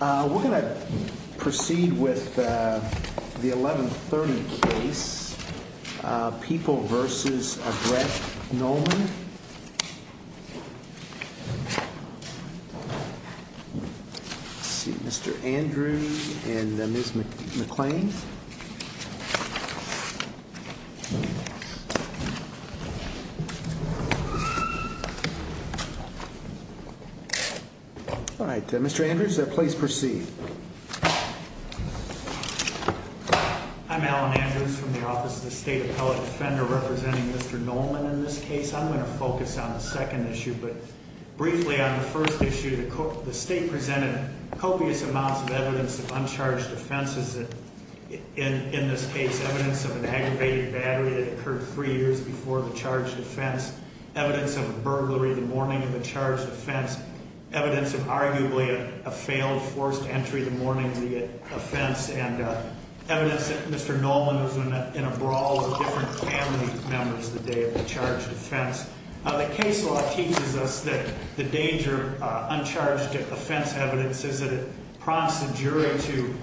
We're going to proceed with the 1130 case, People v. Brett Nollman. Let's see, Mr. Andrews and Ms. McClain. All right, Mr. Andrews, please proceed. I'm Alan Andrews from the Office of the State Appellate Defender representing Mr. Nollman in this case. I'm going to focus on the second issue, but briefly on the first issue. The state presented copious amounts of evidence of uncharged offenses in this case, evidence of an aggravated battery that occurred three years before the charged offense, evidence of a burglary the morning of the charged offense, evidence of arguably a failed forced entry the morning of the offense, and evidence that Mr. Nollman was in a brawl with different family members the day of the charged offense. The case law teaches us that the danger of uncharged offense evidence is that it prompts the jury to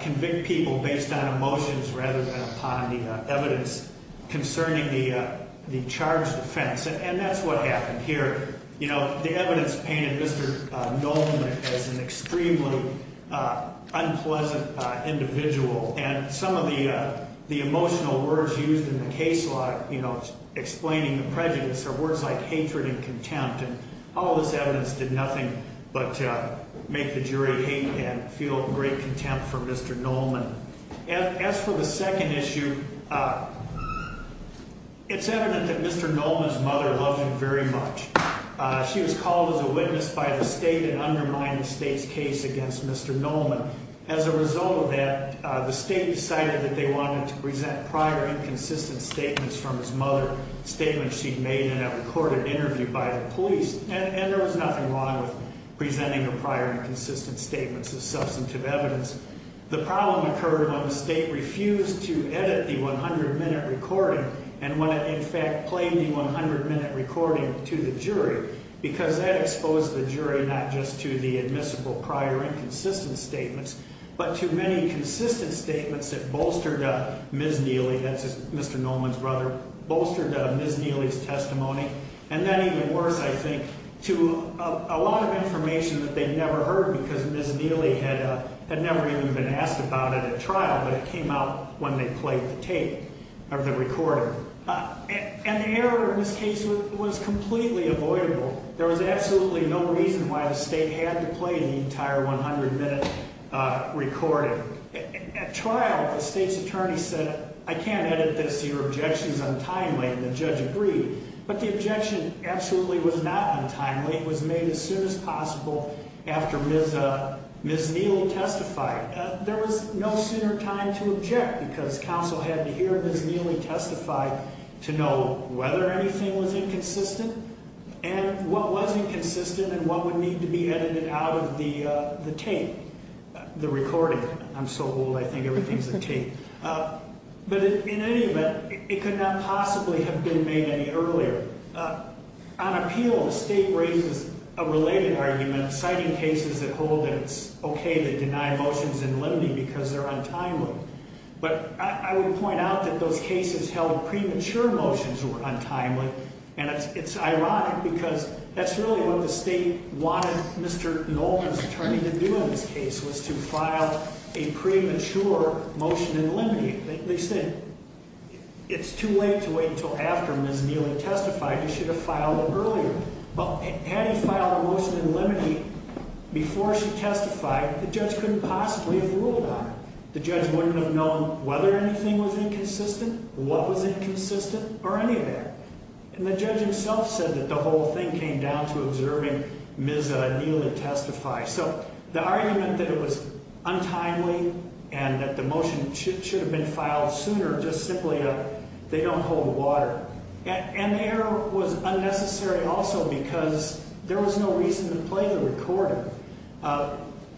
convict people based on emotions rather than upon the evidence concerning the charged offense, and that's what happened here. You know, the evidence painted Mr. Nollman as an extremely unpleasant individual, and some of the emotional words used in the case law, you know, explaining the prejudice are words like hatred and contempt, and all this evidence did nothing but make the jury hate and feel great contempt for Mr. Nollman. As for the second issue, it's evident that Mr. Nollman's mother loved him very much. She was called as a witness by the state and undermined the state's case against Mr. Nollman. As a result of that, the state decided that they wanted to present prior inconsistent statements from his mother, statements she'd made in a recorded interview by the police, and there was nothing wrong with presenting the prior inconsistent statements as substantive evidence. The problem occurred when the state refused to edit the 100-minute recording and when it, in fact, played the 100-minute recording to the jury, because that exposed the jury not just to the admissible prior inconsistent statements, but to many consistent statements that bolstered Ms. Neely, that's Mr. Nollman's brother, bolstered Ms. Neely's testimony, and then even worse, I think, to a lot of information that they'd never heard because Ms. Neely had never even been asked about it at trial, but it came out when they played the tape of the recording. And the error in this case was completely avoidable. There was absolutely no reason why the state had to play the entire 100-minute recording. At trial, the state's attorney said, I can't edit this. Your objection is untimely, and the judge agreed. But the objection absolutely was not untimely. It was made as soon as possible after Ms. Neely testified. There was no sooner time to object because counsel had to hear Ms. Neely testify to know whether anything was inconsistent and what was inconsistent and what would need to be edited out of the tape, the recording. I'm so old, I think everything's a tape. But in any event, it could not possibly have been made any earlier. On appeal, the state raises a related argument, citing cases that hold that it's okay to deny motions in limine because they're untimely. But I would point out that those cases held premature motions were untimely, and it's ironic because that's really what the state wanted Mr. Nollman's attorney to do in this case, was to file a premature motion in limine. They said it's too late to wait until after Ms. Neely testified. You should have filed it earlier. But had he filed a motion in limine before she testified, the judge couldn't possibly have ruled on it. The judge wouldn't have known whether anything was inconsistent, what was inconsistent, or anything. And the judge himself said that the whole thing came down to observing Ms. Neely testify. So the argument that it was untimely and that the motion should have been filed sooner, just simply they don't hold water. And the error was unnecessary also because there was no reason to play the recorder.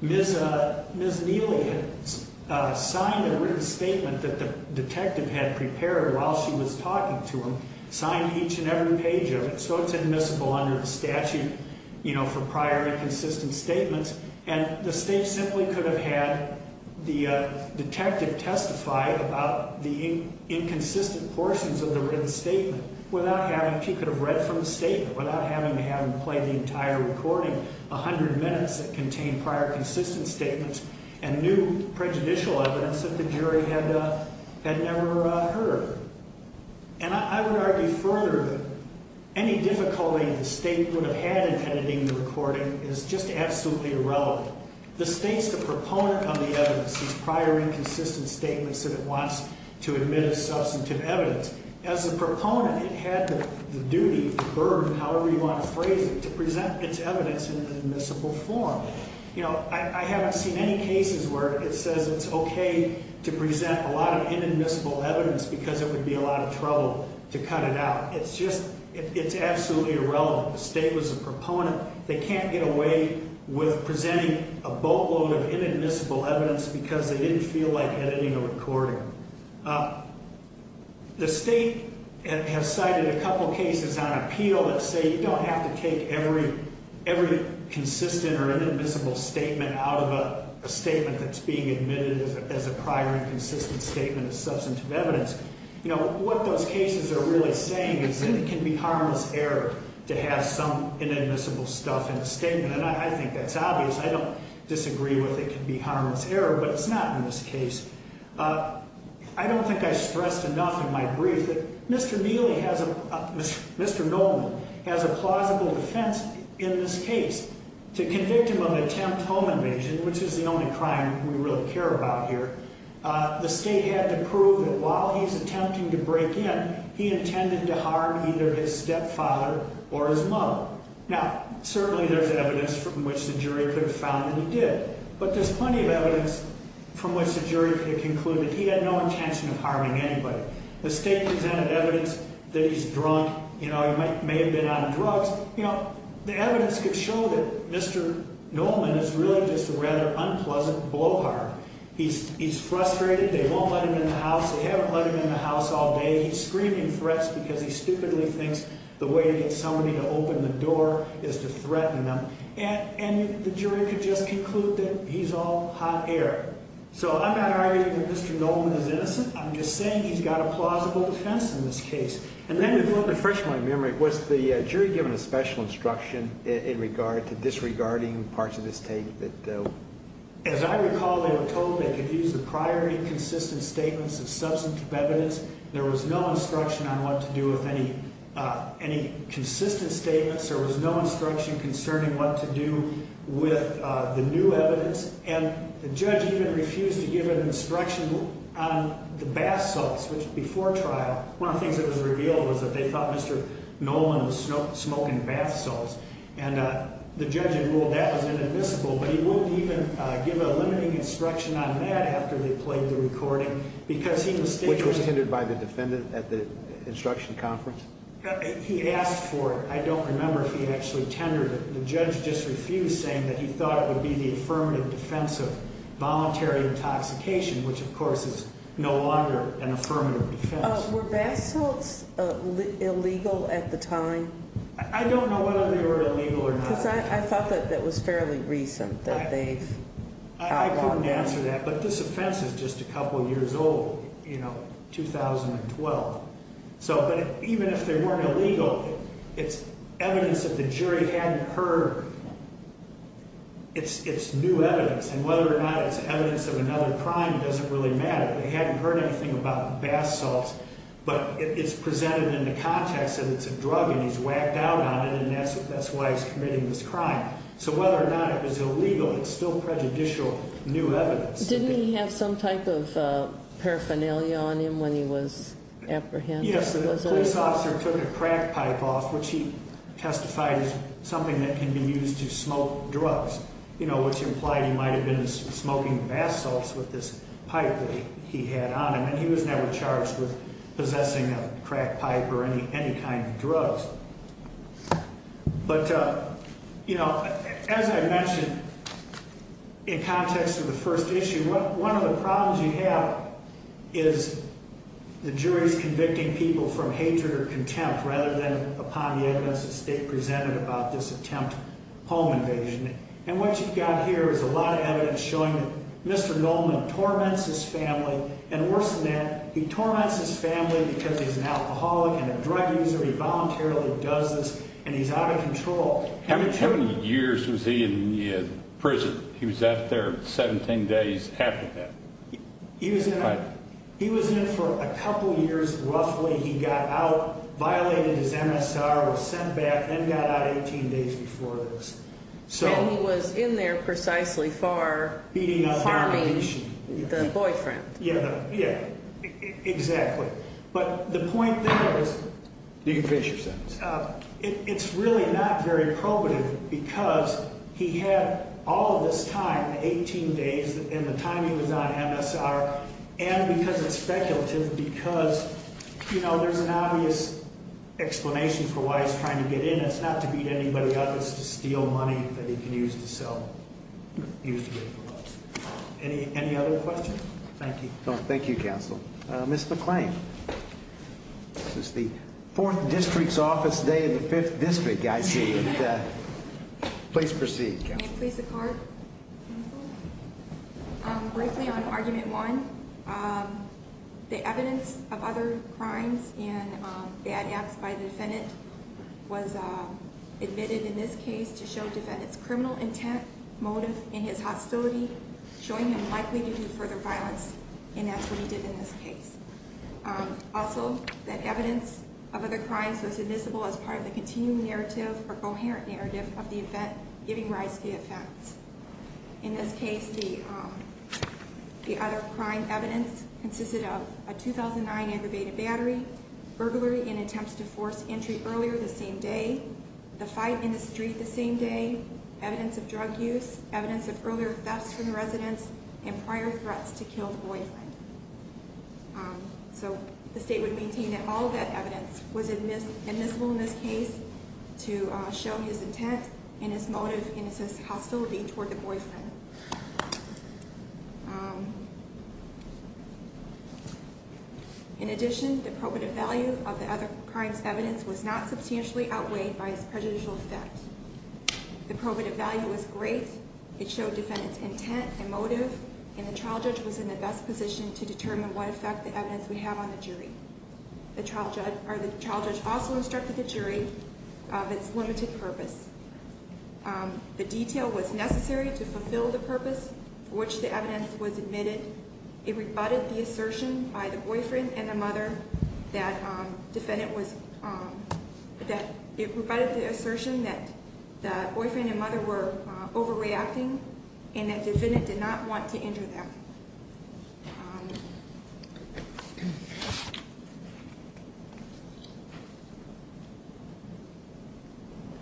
Ms. Neely had signed a written statement that the detective had prepared while she was talking to him, signed each and every page of it, so it's admissible under the statute, you know, for prior inconsistent statements. And the state simply could have had the detective testify about the inconsistent portions of the written statement without having, she could have read from the statement without having to have him play the entire recording, 100 minutes that contained prior consistent statements and new prejudicial evidence that the jury had never heard. And I would argue further that any difficulty the state would have had in editing the recording is just absolutely irrelevant. The state's the proponent of the evidence, these prior inconsistent statements that it wants to admit as substantive evidence. As a proponent, it had the duty, the burden, however you want to phrase it, to present its evidence in an admissible form. You know, I haven't seen any cases where it says it's okay to present a lot of inadmissible evidence because it would be a lot of trouble to cut it out. It's just, it's absolutely irrelevant. The state was the proponent. They can't get away with presenting a boatload of inadmissible evidence because they didn't feel like editing a recording. The state has cited a couple cases on appeal that say you don't have to take every consistent or inadmissible statement out of a statement that's being admitted as a prior inconsistent statement of substantive evidence. You know, what those cases are really saying is that it can be harmless error to have some inadmissible stuff in a statement. And I think that's obvious. I don't disagree with it can be harmless error, but it's not in this case. I don't think I stressed enough in my brief that Mr. Neely has, Mr. Nolman, has a plausible defense in this case. To convict him of attempt home invasion, which is the only crime we really care about here, the state had to prove that while he's attempting to break in, he intended to harm either his stepfather or his mother. Now, certainly there's evidence from which the jury could have found that he did, but there's plenty of evidence from which the jury could have concluded he had no intention of harming anybody. The state presented evidence that he's drunk. You know, he may have been on drugs. You know, the evidence could show that Mr. Nolman is really just a rather unpleasant blowhard. He's frustrated. They won't let him in the house. They haven't let him in the house all day. He's screaming threats because he stupidly thinks the way to get somebody to open the door is to threaten them. And the jury could just conclude that he's all hot air. So I'm not arguing that Mr. Nolman is innocent. I'm just saying he's got a plausible defense in this case. And then the first one in my memory, was the jury given a special instruction in regard to disregarding parts of this take? As I recall, they were told they could use the prior inconsistent statements of substantive evidence. There was no instruction on what to do with any consistent statements. There was no instruction concerning what to do with the new evidence. And the judge even refused to give an instruction on the bath salts before trial. One of the things that was revealed was that they thought Mr. Nolman was smoking bath salts. And the judge had ruled that was inadmissible. But he won't even give a limiting instruction on that after they played the recording because he was. Which was hinted by the defendant at the instruction conference? He asked for it. I don't remember if he actually tendered it. The judge just refused saying that he thought it would be the affirmative defense of voluntary intoxication. Which, of course, is no longer an affirmative defense. Were bath salts illegal at the time? I don't know whether they were illegal or not. Because I thought that was fairly recent that they've. I couldn't answer that. But this offense is just a couple years old. You know, 2012. But even if they weren't illegal, it's evidence that the jury hadn't heard. It's new evidence. And whether or not it's evidence of another crime doesn't really matter. They hadn't heard anything about bath salts. But it's presented in the context that it's a drug and he's whacked out on it. And that's why he's committing this crime. So whether or not it was illegal, it's still prejudicial new evidence. Didn't he have some type of paraphernalia on him when he was apprehended? Yes. The police officer took a crack pipe off, which he testified is something that can be used to smoke drugs. You know, which implied he might have been smoking bath salts with this pipe that he had on him. And he was never charged with possessing a crack pipe or any kind of drugs. But, you know, as I mentioned in context of the first issue, one of the problems you have is the jury's convicting people from hatred or contempt rather than upon the evidence the state presented about this attempt home invasion. And what you've got here is a lot of evidence showing that Mr. Goldman torments his family. And worse than that, he torments his family because he's an alcoholic and a drug user. He voluntarily does this, and he's out of control. How many years was he in prison? He was out there 17 days after that. He was in for a couple years roughly. He got out, violated his MSR, was sent back, and got out 18 days before this. And he was in there precisely for harming the boyfriend. Yeah, exactly. But the point there is it's really not very probative because he had all of this time, the 18 days and the time he was on MSR, and because it's speculative because, you know, there's an obvious explanation for why he's trying to get in. It's not to beat anybody up. It's to steal money that he can use to sell, use to make a living. Any other questions? Thank you. Thank you, counsel. Ms. McClain. This is the fourth district's office day in the fifth district, I see. Please proceed, counsel. May it please the Court? Briefly on Argument 1, the evidence of other crimes and bad acts by the defendant was admitted in this case to show defendant's criminal intent, motive, and his hostility, showing him likely to do further violence, and that's what he did in this case. Also, that evidence of other crimes was admissible as part of the continuing narrative or coherent narrative of the event, giving rise to the effects. In this case, the other crime evidence consisted of a 2009 aggravated battery, burglary and attempts to force entry earlier the same day, the fight in the street the same day, evidence of drug use, evidence of earlier thefts from the residence, and prior threats to kill the boyfriend. So the State would maintain that all of that evidence was admissible in this case to show his intent and his motive and his hostility toward the boyfriend. In addition, the probative value of the other crime's evidence was not substantially outweighed by his prejudicial effect. The probative value was great. It showed defendant's intent and motive, and the trial judge was in the best position to determine what effect the evidence would have on the jury. The trial judge also instructed the jury of its limited purpose. The detail was necessary to fulfill the purpose for which the evidence was admitted. It rebutted the assertion that the boyfriend and mother were overreacting and that defendant did not want to injure them.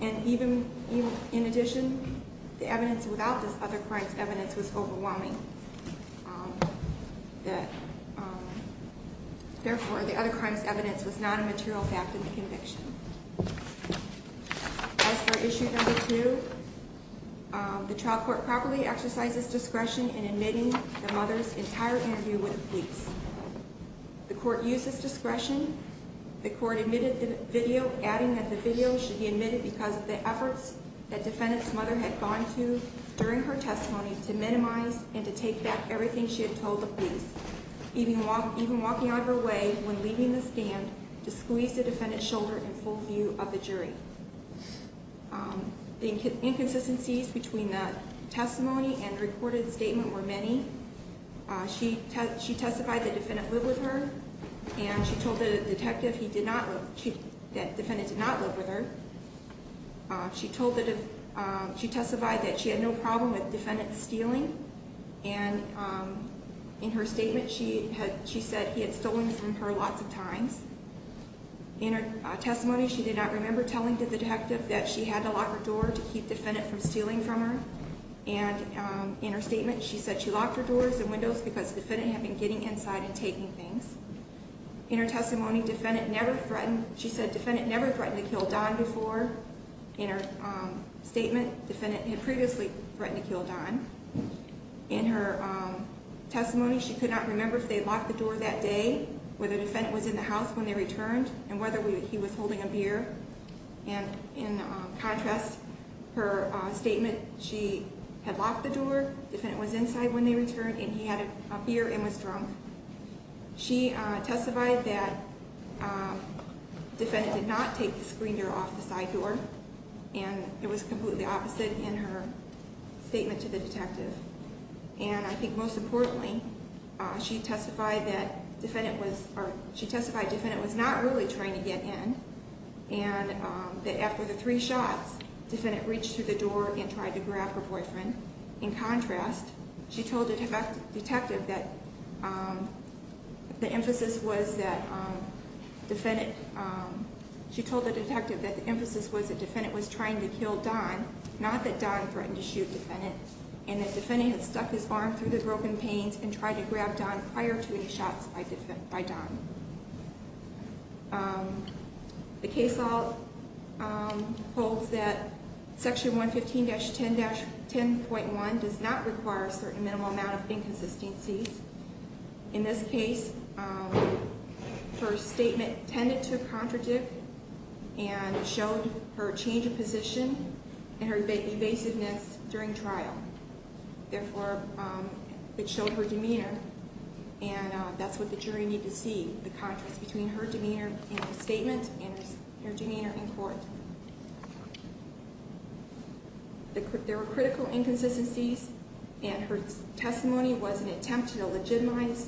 And even in addition, the evidence without this other crime's evidence was overwhelming. Therefore, the other crime's evidence was not a material fact in the conviction. As for issue number two, the trial court properly exercises discretion in admitting the mother's entire interview with the police. The court used this discretion. The court admitted the video, adding that the video should be admitted because of the efforts that defendant's mother had gone to during her testimony to minimize and to take back everything she had told the police, even walking out of her way when leaving the stand to squeeze the defendant's shoulder in full view of the jury. The inconsistencies between the testimony and recorded statement were many. She testified that defendant lived with her, and she told the detective that defendant did not live with her. She testified that she had no problem with defendant stealing, and in her statement she said he had stolen from her lots of times. In her testimony, she did not remember telling the detective that she had to lock her door to keep defendant from stealing from her, and in her statement she said she locked her doors and windows because defendant had been getting inside and taking things. In her testimony, she said defendant never threatened to kill Don before. In her statement, defendant had previously threatened to kill Don. In her testimony, she could not remember if they locked the door that day, whether defendant was in the house when they returned, and whether he was holding a beer. In contrast, her statement, she had locked the door, defendant was inside when they returned, and he had a beer and was drunk. She testified that defendant did not take the screen door off the side door, and I think most importantly, she testified that defendant was not really trying to get in, and that after the three shots, defendant reached through the door and tried to grab her boyfriend. In contrast, she told the detective that the emphasis was that defendant was trying to kill Don, not that Don threatened to shoot defendant, and that defendant had stuck his arm through the broken panes and tried to grab Don prior to any shots by Don. The case law holds that section 115-10.1 does not require a certain minimum amount of inconsistencies. and showed her change of position and her evasiveness during trial. Therefore, it showed her demeanor, and that's what the jury needed to see, the contrast between her demeanor in her statement and her demeanor in court. There were critical inconsistencies, and her testimony was an attempt to legitimize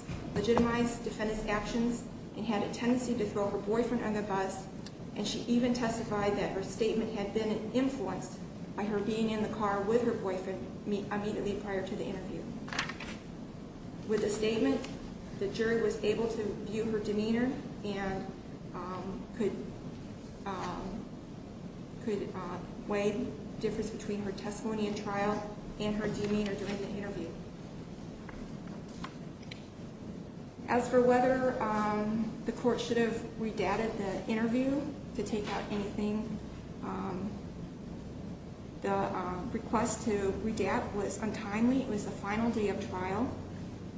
defendant's actions and had a tendency to throw her boyfriend under the bus, and she even testified that her statement had been influenced by her being in the car with her boyfriend immediately prior to the interview. With the statement, the jury was able to view her demeanor and could weigh the difference between her testimony in trial and her demeanor during the interview. As for whether the court should have redacted the interview to take out anything, the request to redact was untimely. It was the final day of trial.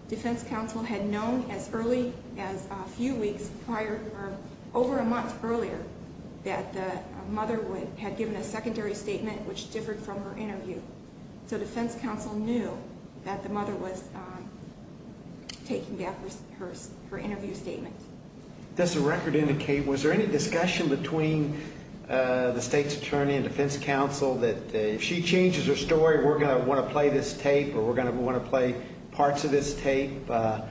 Defense counsel had known as early as a few weeks prior, or over a month earlier, that the mother had given a secondary statement which differed from her interview. So defense counsel knew that the mother was taking back her interview statement. Does the record indicate, was there any discussion between the state's attorney and defense counsel that if she changes her story, we're going to want to play this tape or we're going to want to play parts of this tape? Was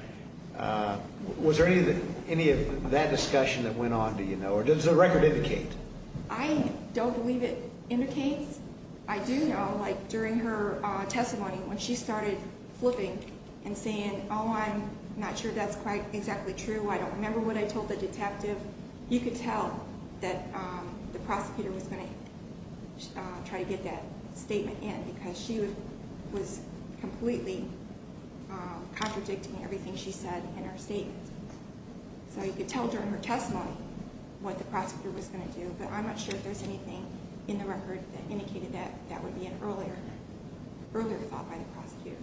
there any of that discussion that went on, do you know, or does the record indicate? I don't believe it indicates. I do know during her testimony when she started flipping and saying, oh, I'm not sure that's quite exactly true, I don't remember what I told the detective, you could tell that the prosecutor was going to try to get that statement in because she was completely contradicting everything she said in her statement. So you could tell during her testimony what the prosecutor was going to do, but I'm not sure if there's anything in the record that indicated that that would be an earlier thought by the prosecutor.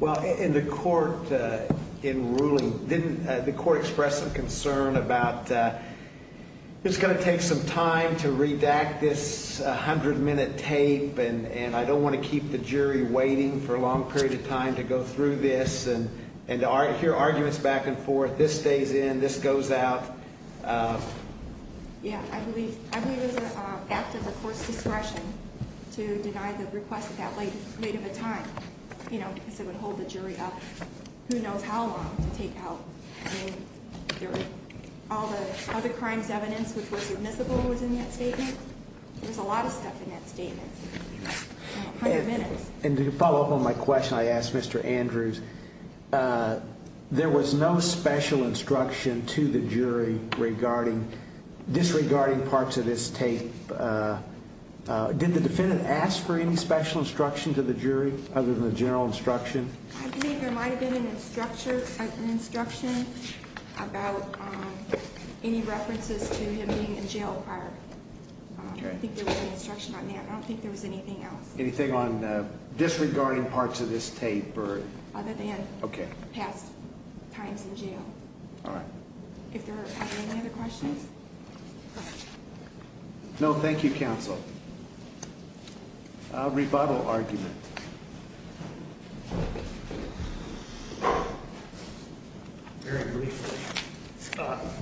Well, in the court in ruling, didn't the court express some concern about it's going to take some time to redact this 100-minute tape and I don't want to keep the jury waiting for a long period of time to go through this and to hear arguments back and forth, this stays in, this goes out? Yeah, I believe it was an act of the court's discretion to deny the request at that late of a time, you know, because it would hold the jury up who knows how long to take out. I mean, all the other crimes evidence which was admissible was in that statement. There was a lot of stuff in that statement, 100 minutes. And to follow up on my question I asked Mr. Andrews, there was no special instruction to the jury disregarding parts of this tape. Did the defendant ask for any special instruction to the jury other than the general instruction? I think there might have been an instruction about any references to him being in jail prior. I think there was an instruction on that. I don't think there was anything else. Anything on disregarding parts of this tape? Other than past times in jail. All right. If there are any other questions? No, thank you, counsel. A rebuttal argument. Very briefly.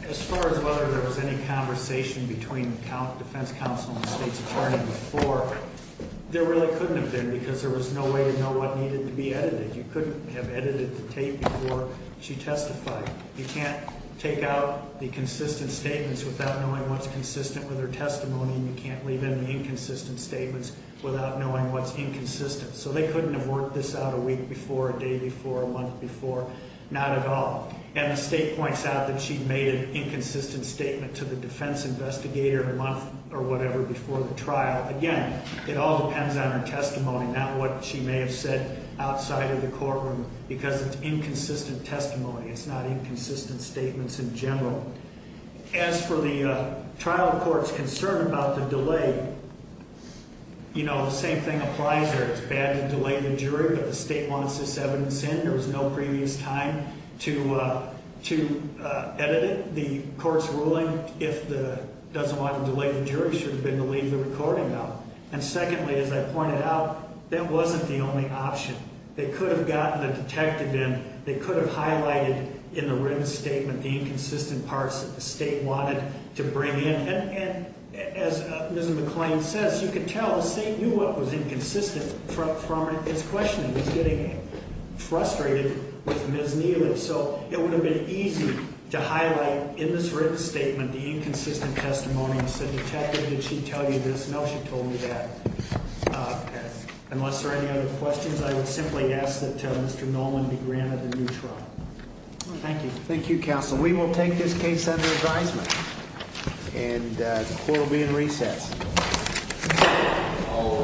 As far as whether there was any conversation between the defense counsel and the state's attorney before, there really couldn't have been because there was no way to know what needed to be edited. You couldn't have edited the tape before she testified. You can't take out the consistent statements without knowing what's consistent with her testimony and you can't leave in the inconsistent statements without knowing what's inconsistent. So they couldn't have worked this out a week before, a day before, a month before. Not at all. And the state points out that she made an inconsistent statement to the defense investigator a month or whatever before the trial. Again, it all depends on her testimony, not what she may have said outside of the courtroom, because it's inconsistent testimony. It's not inconsistent statements in general. As for the trial court's concern about the delay, you know, the same thing applies here. It's bad to delay the jury, but the state wants this evidence in. There was no previous time to edit it. The court's ruling, if it doesn't want to delay the jury, should have been to leave the recording out. And secondly, as I pointed out, that wasn't the only option. They could have gotten a detective in. They could have highlighted in the written statement the inconsistent parts that the state wanted to bring in. And as Ms. McClain says, you can tell the state knew what was inconsistent from its questioning. It was getting frustrated with Ms. Neely. So it would have been easy to highlight in this written statement the inconsistent testimony and say, Detective, did she tell you this? No, she told me that. Unless there are any other questions, I would simply ask that Mr. Nolman be granted a new trial. Thank you. Thank you, counsel. We will take this case under advisement. And the court will be in recess. All right.